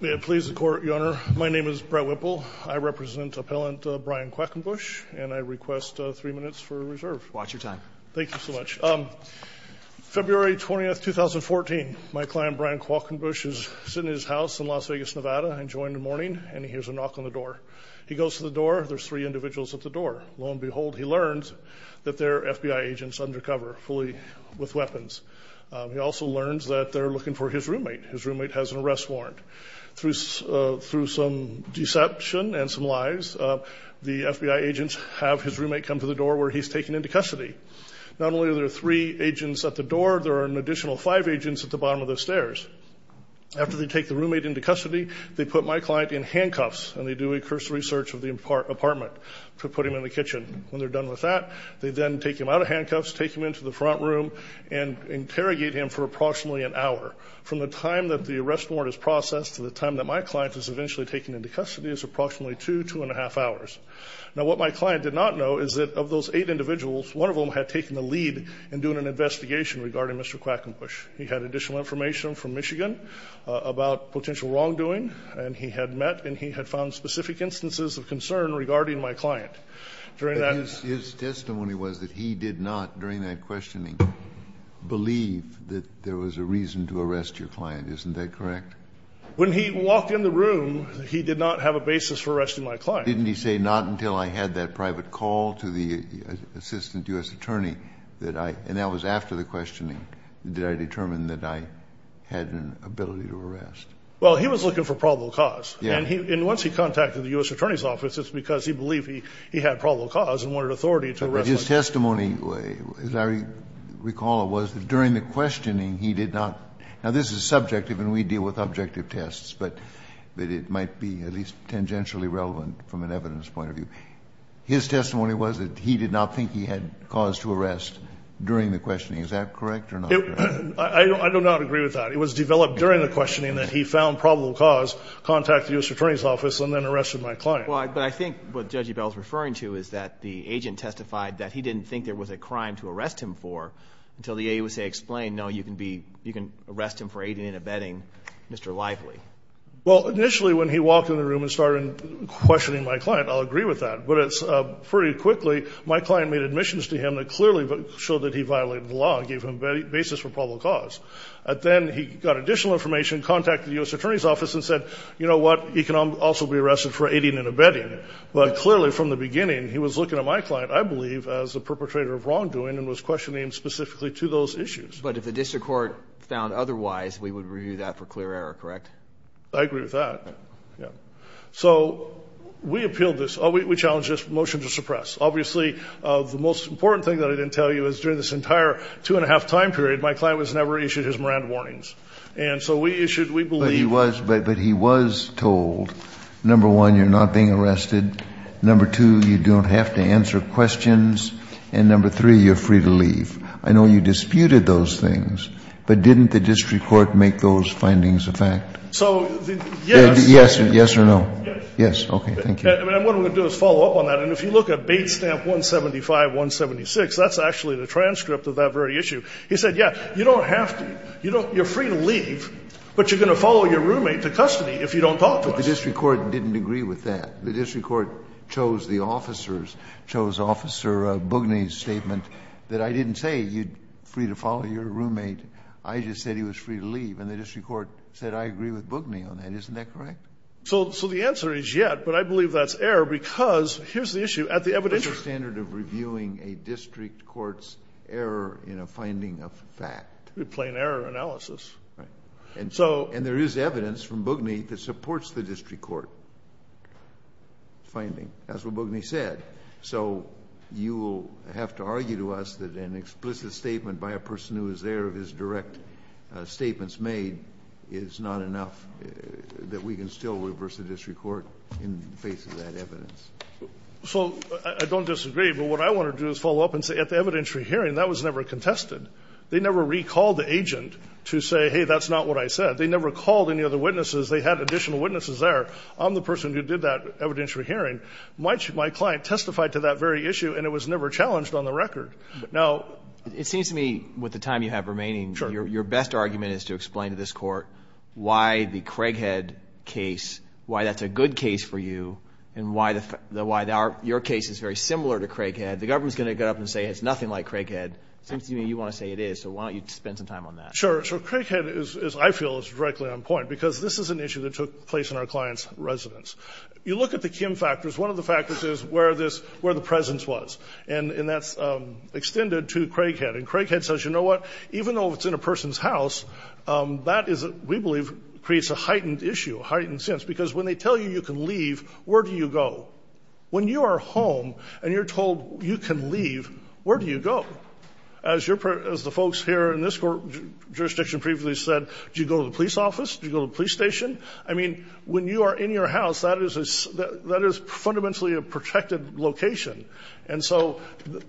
May it please the court, your honor. My name is Brett Whipple. I represent appellant Bryon Quackenbush and I request three minutes for reserve. Watch your time. Thank you so much. February 20th, 2014. My client, Bryon Quackenbush, is sitting in his house in Las Vegas, Nevada, enjoying the morning and he hears a knock on the door. He goes to the door. There's three individuals at the door. Lo and behold, he learns that they're FBI agents undercover, fully with weapons. He also learns that they're looking for his roommate. His roommate has an arrest warrant. Through some deception and some lies, the FBI agents have his roommate come to the door where he's taken into custody. Not only are there three agents at the door, there are an additional five agents at the bottom of the stairs. After they take the roommate into custody, they put my client in handcuffs and they do a cursory search of the apartment to put him in the kitchen. When they're done with that, they then take him out of handcuffs, take him into the front room and interrogate him for approximately an hour. From the time that the arrest warrant is processed to the time that my client is eventually taken into custody is approximately two, two and a half hours. Now, what my client did not know is that of those eight individuals, one of them had taken the lead in doing an investigation regarding Mr. Quackenbush. He had additional information from Michigan about potential wrongdoing and he had met and he had found specific instances of concern regarding my client. During that... His testimony was that he did not, during that questioning, believe that there was a reason to arrest your client. Isn't that correct? When he walked in the room, he did not have a basis for arresting my client. Didn't he say, not until I had that private call to the assistant U.S. attorney that I, and that was after the questioning, did I determine that I had an ability to arrest? Well, he was looking for probable cause. Yeah. And he, and once he contacted the U.S. Attorney's Office, it's because he believed he, he had probable cause and wanted authority to arrest my client. His testimony, as I recall, was that during the questioning, he did not, now this is subjective and we deal with objective tests, but it might be at least tangentially relevant from an evidence point of view. His testimony was that he did not think he had cause to arrest during the questioning. Is that correct or not? I do not agree with that. It was developed during the questioning that he found probable cause, contacted the U.S. Attorney's Office, and then arrested my client. Well, but I think what Judge Ebel is referring to is that the agent testified that he didn't think there was a crime to arrest him for until the AAUSA explained, no, you can be, you can arrest him for aiding and abetting Mr. Lively. Well, initially, when he walked in the room and started questioning my client, I'll agree with that, but it's pretty quickly, my client made admissions to him that clearly showed that he violated the law and gave him basis for probable cause. Then he got additional information, contacted the U.S. Attorney's Office and said, you know what, he can also be But clearly from the beginning, he was looking at my client, I believe, as a perpetrator of wrongdoing and was questioning him specifically to those issues. But if the district court found otherwise, we would review that for clear error, correct? I agree with that. Yeah. So we appealed this. We challenged this motion to suppress. Obviously, the most important thing that I didn't tell you is during this entire two and a half time period, my client was never issued his Moran warnings. And so we issued, we was told, number one, you're not being arrested. Number two, you don't have to answer questions. And number three, you're free to leave. I know you disputed those things, but didn't the district court make those findings a fact? So, yes. Yes or no? Yes. Yes. Okay. Thank you. And what I'm going to do is follow up on that. And if you look at Bates Stamp 175, 176, that's actually the transcript of that very issue. He said, yeah, you don't have to. You don't you're free to leave, but you're going to follow your roommate to custody if you don't talk to us. But the district court didn't agree with that. The district court chose the officer's chose Officer Boogney's statement that I didn't say you're free to follow your roommate. I just said he was free to leave. And the district court said I agree with Boogney on that. Isn't that correct? So the answer is, yes. But I believe that's error because here's the issue. At the evidential standard of reviewing a district court's error in a finding of fact. Plain error analysis. Right. And so And there is evidence from Boogney that supports the district court finding. That's what Boogney said. So you will have to argue to us that an explicit statement by a person who is there of his direct statements made is not enough, that we can still reverse the district court in the face of that evidence. So I don't disagree. But what I want to do is follow up and say at the evidentiary hearing, that was never contested. They never recalled the agent to say, hey, that's not what I said. They never called any other witnesses. They had additional witnesses there. I'm the person who did that evidentiary hearing. My client testified to that very issue, and it was never challenged on the record. Now, It seems to me with the time you have remaining, your best argument is to explain to this court why the Craighead case, why that's a good case for you, and why your case is very similar to Craighead. The government's going to get up and say it's nothing like Craighead. It seems to me you want to say it is. So why don't you spend some time on that? Sure. So Craighead is, I feel, is directly on point, because this is an issue that took place in our client's residence. You look at the Kim factors, one of the factors is where the presence was. And that's extended to Craighead. And Craighead says, you know what, even though it's in a person's house, that is, we believe, creates a heightened issue, a heightened sense. Because when they tell you you can leave, where do you go? When you are home and you're told you can go, where do you go? As the folks here in this jurisdiction previously said, do you go to the police office? Do you go to the police station? I mean, when you are in your house, that is fundamentally a protected location. And so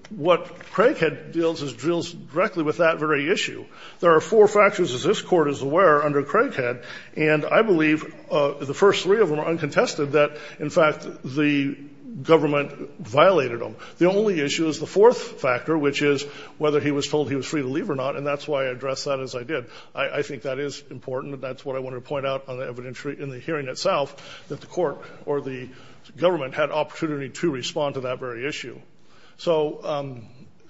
what Craighead deals is, deals directly with that very issue. There are four factors, as this Court is aware, under Craighead. And I believe the first three of them are uncontested, that, in fact, the government violated him. The only issue is the fourth factor, which is whether he was told he was free to leave or not, and that's why I addressed that as I did. I think that is important, and that's what I wanted to point out on the evidentiary in the hearing itself, that the court or the government had opportunity to respond to that very issue. So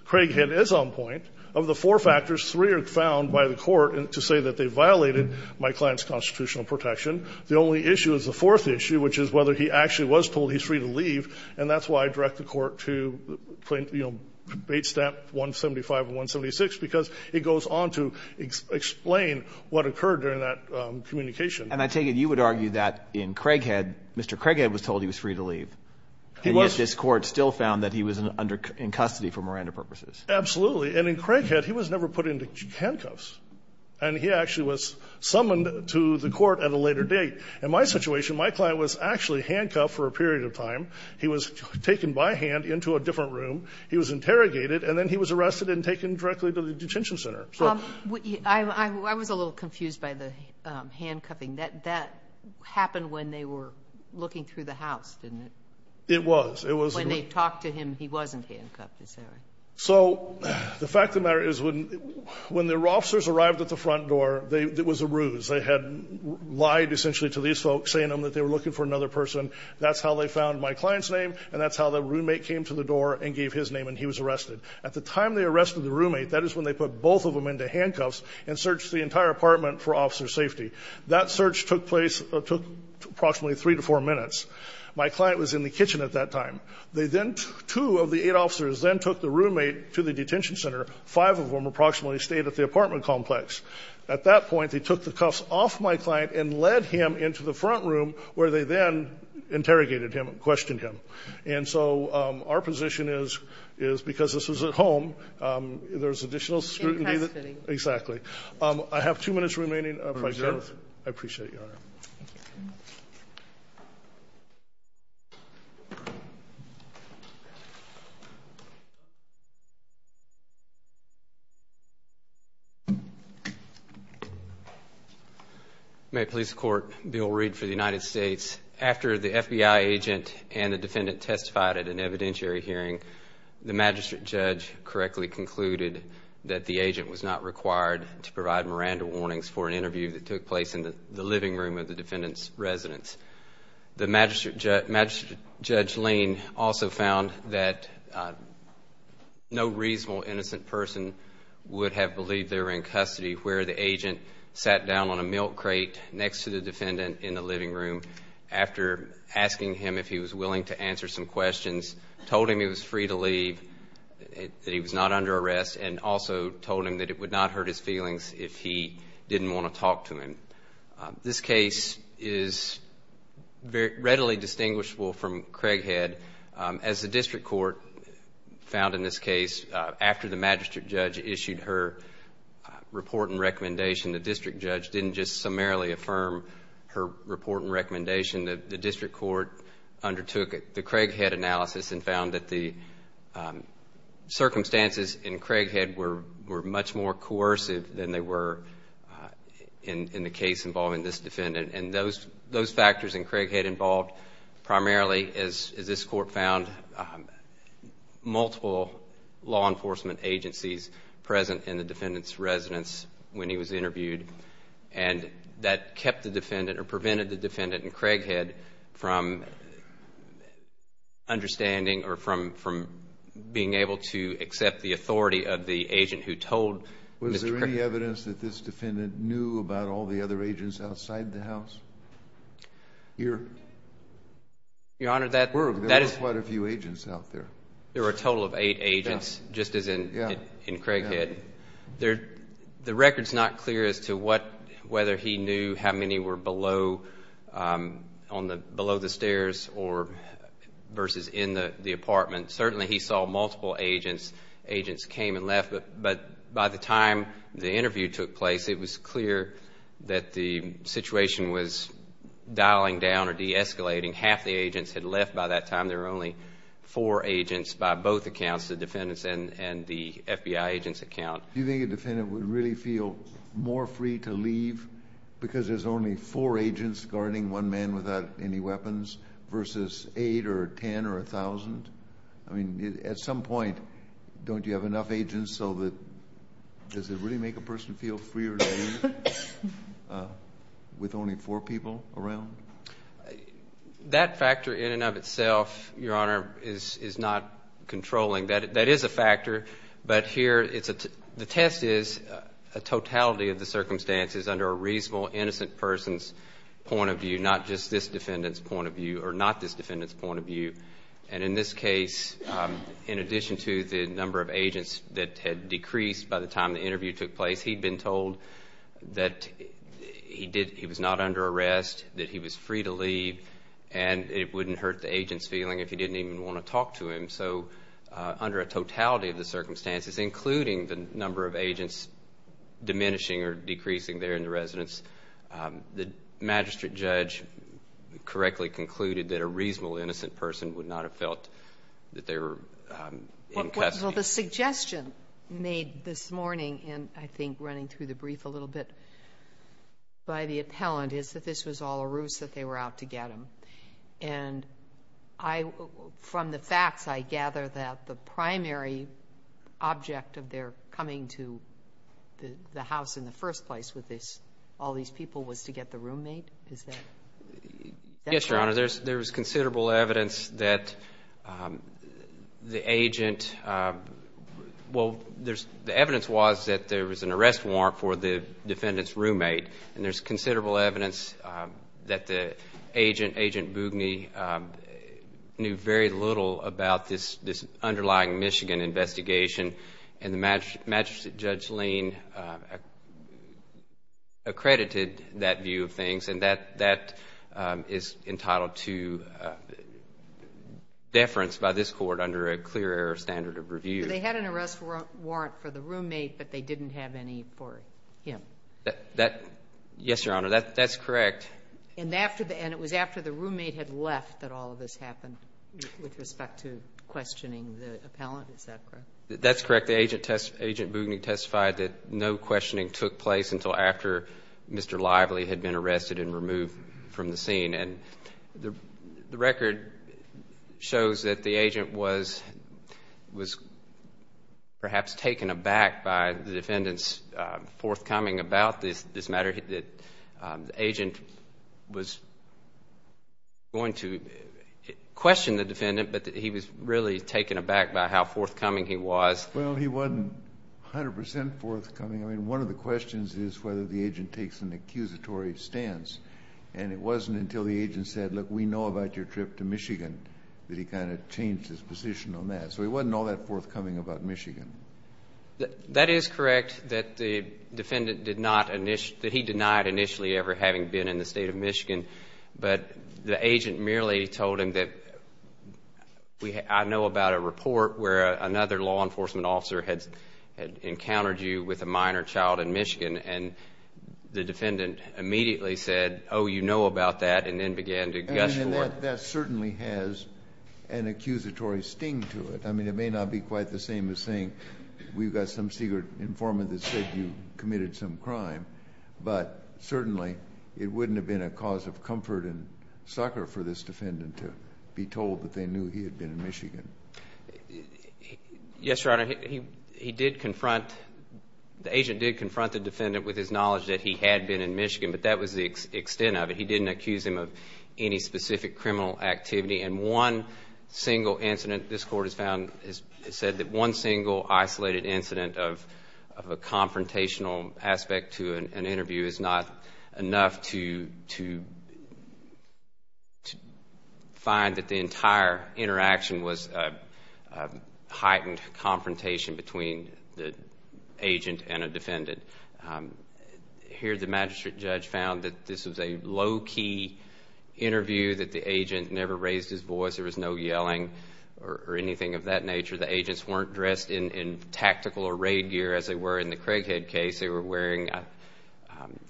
Craighead is on point. Of the four factors, three are found by the court to say that they violated my client's constitutional protection. The only issue is the fourth issue, which is whether he actually was told he's free to leave, and that's why I direct the court to, you know, Bate Stamp 175 and 176, because it goes on to explain what occurred during that communication. And I take it you would argue that in Craighead, Mr. Craighead was told he was free to leave. He was. And yet this court still found that he was under, in custody for Miranda purposes. Absolutely. And in Craighead, he was never put into handcuffs. And he actually was summoned to the court at a later date. In my situation, my time, he was taken by hand into a different room, he was interrogated, and then he was arrested and taken directly to the detention center. So the fact of the matter is, when the officers arrived at the front door, it was a ruse. They had lied essentially to these folks, saying to them that they were looking for another person. That's how they found my client's name, and that's how the roommate came to the door and gave his name, and he was arrested. At the time they arrested the roommate, that is when they put both of them into handcuffs and searched the entire apartment for officer safety. That search took place, took approximately three to four minutes. My client was in the kitchen at that time. They then, two of the eight officers then took the roommate to the detention center. Five of them approximately stayed at the apartment complex. At that point, they took the cuffs off my client and led him into the front room, where they then interrogated him and questioned him. And so our position is, because this is at home, there's additional scrutiny. In custody. Exactly. I have two minutes remaining if I can. I appreciate you, Your Honor. May it please the court, Bill Reed for the United States. After the FBI agent and the defendant testified at an evidentiary hearing, the magistrate judge correctly concluded that the agent was not required to provide Miranda warnings for an interview that took place in the living room of the defendant's residence. The magistrate judge Lane also found that no reasonable innocent person would have believed they were in custody where the agent sat down on a milk crate next to the defendant in the living room after asking him if he was willing to answer some questions, told him he was free to leave, that he was not under arrest, and also told him that it would not hurt his feelings if he didn't want to talk to him. This case is readily distinguishable from Craighead. As the district court found in this case, after the magistrate judge issued her report and recommendation, the district judge didn't just summarily affirm her report and recommendation. The district court undertook the Craighead analysis and found that the circumstances in Craighead were much more in the case involving this defendant. And those factors in Craighead involved primarily, as this court found, multiple law enforcement agencies present in the defendant's residence when he was interviewed. And that kept the defendant or prevented the defendant in Craighead from understanding or from being able to accept the authority of the agent who told Mr. Craighead. Is there any evidence that this defendant knew about all the other agents outside the house? Your Honor, there were quite a few agents out there. There were a total of eight agents, just as in Craighead. The record's not clear as to whether he knew how many were below the stairs versus in the apartment. Certainly, he saw multiple agents. Agents came and left. But by the time the interview took place, it was clear that the situation was dialing down or de-escalating. Half the agents had left by that time. There were only four agents by both accounts, the defendant's and the FBI agent's account. Do you think a defendant would really feel more free to leave because there's only four agents guarding one man without any weapons versus eight or ten or a thousand? I mean, at some point, don't you have enough agents so that does it really make a person feel freer to leave with only four people around? That factor in and of itself, Your Honor, is not controlling. That is a factor. The test is a totality of the circumstances under a reasonable, innocent person's point of view, not just this defendant's point of view or not this defendant's point of view. And in this case, in addition to the number of agents that had decreased by the time the interview took place, he'd been told that he was not under arrest, that he was free to leave, and it wouldn't hurt the agent's feeling if he didn't even want to talk to him. So under a totality of the circumstances, including the number of agents diminishing or decreasing there in the residence, the magistrate judge correctly concluded that a reasonable, innocent person would not have felt that they were in custody. Well, the suggestion made this morning, and I think running through the brief a little bit by the appellant, is that this was all a ruse, that they were out to get him. And from the facts, I gather that the primary object of their coming to the house in the first place with all these people was to get the roommate? Is that correct? Yes, Your Honor. There was considerable evidence that the agent... Well, the evidence was that there was an arrest warrant for the defendant's roommate, and there's considerable evidence that the agent, Agent Boogney, knew very little about this underlying Michigan investigation. And the magistrate judge, Lane, accredited that view of things, and that is entitled to deference by this court under a clear error standard of review. So they had an arrest warrant for the roommate, but they didn't have any for him? Yes, Your Honor, that's correct. And it was after the roommate had left that all of this happened with respect to questioning the appellant? Is that correct? That's correct. Agent Boogney testified that no questioning took place until after Mr. Lively had been arrested and removed from the scene. And the record shows that the agent was perhaps taken aback by the defendant's forthcoming about this matter, that the agent was going to question the defendant, but that he was really taken aback by how forthcoming he was. Well, he wasn't 100 percent forthcoming. I mean, one of the questions is whether the agent takes an accusatory stance, and it wasn't until the agent said, look, we know about your trip to Michigan, that he kind of changed his position on that. So he wasn't all that forthcoming about Michigan. That is correct that the defendant did not initially, that he denied initially ever having been in the state of Michigan, but the agent merely told him that I know about a report where another law enforcement officer had encountered you with a minor child in Michigan, and the defendant immediately said, oh, you know about that, and then began to gush toward you. And that certainly has an accusatory sting to it. I mean, it may not be quite the same as saying we've got some secret informant that said you committed some crime, but certainly it wouldn't have been a cause of comfort and succor for this defendant to be told that they knew he had been in Michigan. Yes, Your Honor, he did confront, the agent did confront the defendant with his knowledge that he had been in Michigan, but that was the extent of it. He didn't accuse him of any specific criminal activity, and one single incident, this Court has found, has said that one single isolated incident of a confrontational aspect to an interview is not enough to find that the entire interaction was a heightened confrontation between the agent and a defendant. Here the magistrate judge found that this was a low-key interview, that the agent never raised his voice, there was no yelling or anything of that nature. The agents weren't dressed in tactical or raid gear as they were in the Craighead case. They were wearing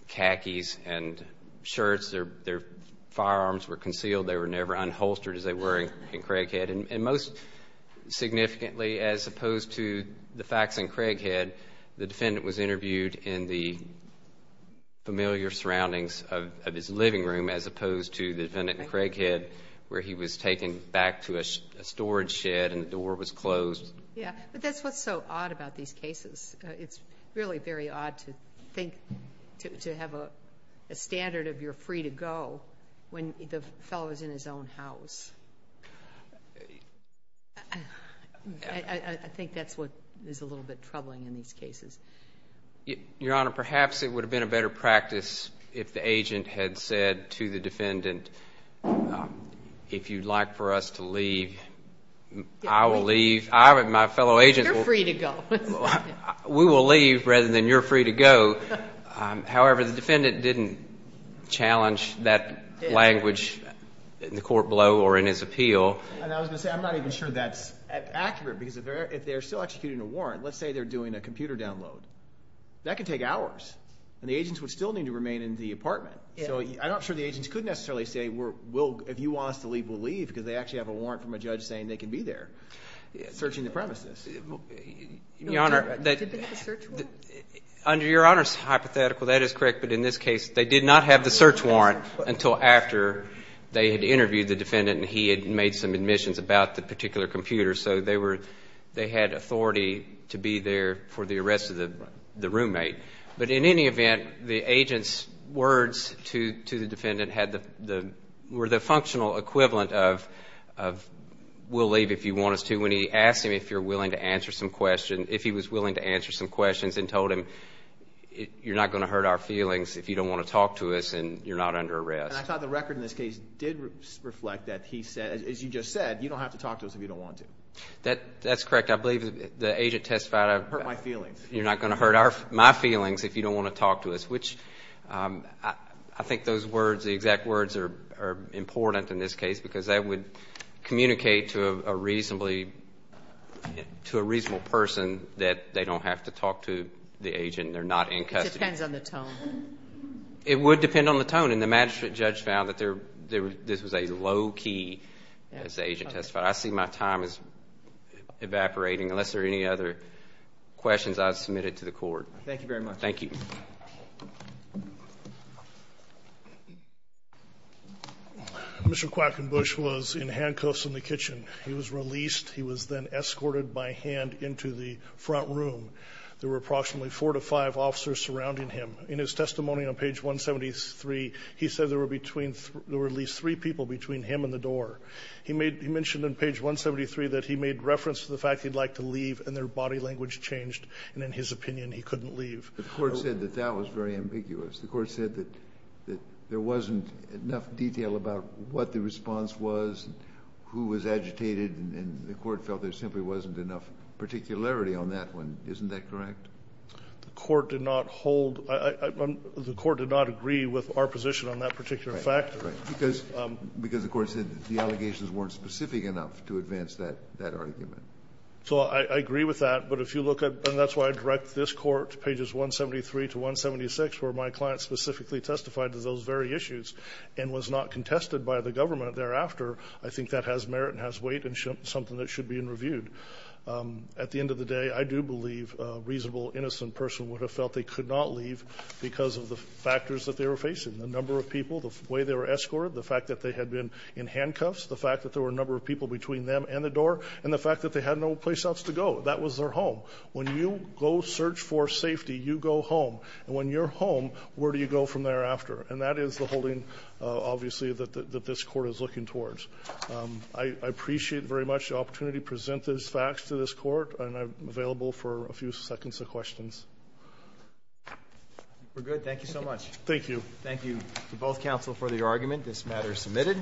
khakis and shirts. Their firearms were concealed. They were never unholstered as they were in Craighead. And most significantly, as opposed to the facts in Craighead, the defendant was interviewed in the familiar surroundings of his living room, as opposed to the defendant in Craighead where he was taken back to a storage shed and the door was closed. Yeah, but that's what's so odd about these cases. It's really very odd to think, to have a standard of you're free to go when the fellow is in his own house. I think that's what is a little bit troubling in these cases. Your Honor, perhaps it would have been a better practice if the agent had said to the defendant, if you'd like for us to leave, I will leave. You're free to go. We will leave rather than you're free to go. However, the defendant didn't challenge that language in the court below or in his appeal. And I was going to say, I'm not even sure that's accurate because if they're still executing a warrant, let's say they're doing a computer download, that could take hours. And the agents would still need to remain in the apartment. So I'm not sure the agents could necessarily say, if you want us to leave, we'll leave, because they actually have a warrant from a judge saying they can be there searching the premises. Your Honor, under Your Honor's hypothetical, that is correct. But in this case, they did not have the search warrant until after they had interviewed the defendant and he had made some admissions about the particular computer. So they had authority to be there for the arrest of the roommate. But in any event, the agent's words to the defendant were the functional equivalent of we'll leave if you want us to when he asked him if he was willing to answer some questions and told him you're not going to hurt our feelings if you don't want to talk to us and you're not under arrest. And I thought the record in this case did reflect that. He said, as you just said, you don't have to talk to us if you don't want to. That's correct. I believe the agent testified. Hurt my feelings. You're not going to hurt my feelings if you don't want to talk to us, which I think those words, the exact words are important in this case because that would communicate to a reasonable person that they don't have to talk to the agent. They're not in custody. It depends on the tone. It would depend on the tone. And the magistrate judge found that this was a low key, as the agent testified. I see my time is evaporating unless there are any other questions I've submitted to the court. Thank you very much. Thank you. Mr. Quackenbush was in handcuffs in the kitchen. He was released. He was then escorted by hand into the front room. There were approximately four to five officers surrounding him. In his testimony on page 173, he said there were at least three people between him and the door. He made he mentioned on page 173 that he made reference to the fact he'd like to leave and their body language changed. And in his opinion, he couldn't leave. The court said that that was very ambiguous. The court said that there wasn't enough detail about what the response was, who was agitated, and the court felt there simply wasn't enough particularity on that one. Isn't that correct? The court did not hold the court did not agree with our position on that particular factor. Because the court said the allegations weren't specific enough to advance that argument. So I agree with that. But if you look at, and that's why I direct this court, pages 173 to 176, where my client specifically testified to those very issues and was not contested by the government thereafter, I think that has merit and has weight and something that should be reviewed. At the end of the day, I do believe a reasonable, innocent person would have felt they could not leave because of the factors that they were facing, the number of people, the way they were escorted, the fact that they had been in handcuffs, the fact that there were a number of people between them and the door, and the fact that they had no place else to go. That was their home. When you go search for safety, you go home. And when you're home, where do you go from thereafter? And that is the holding, obviously, that this court is looking towards. I appreciate very much the opportunity to present these facts to this court, and I'm available for a few seconds of questions. We're good. Thank you so much. Thank you. Thank you to both counsel for the argument. This matter is submitted.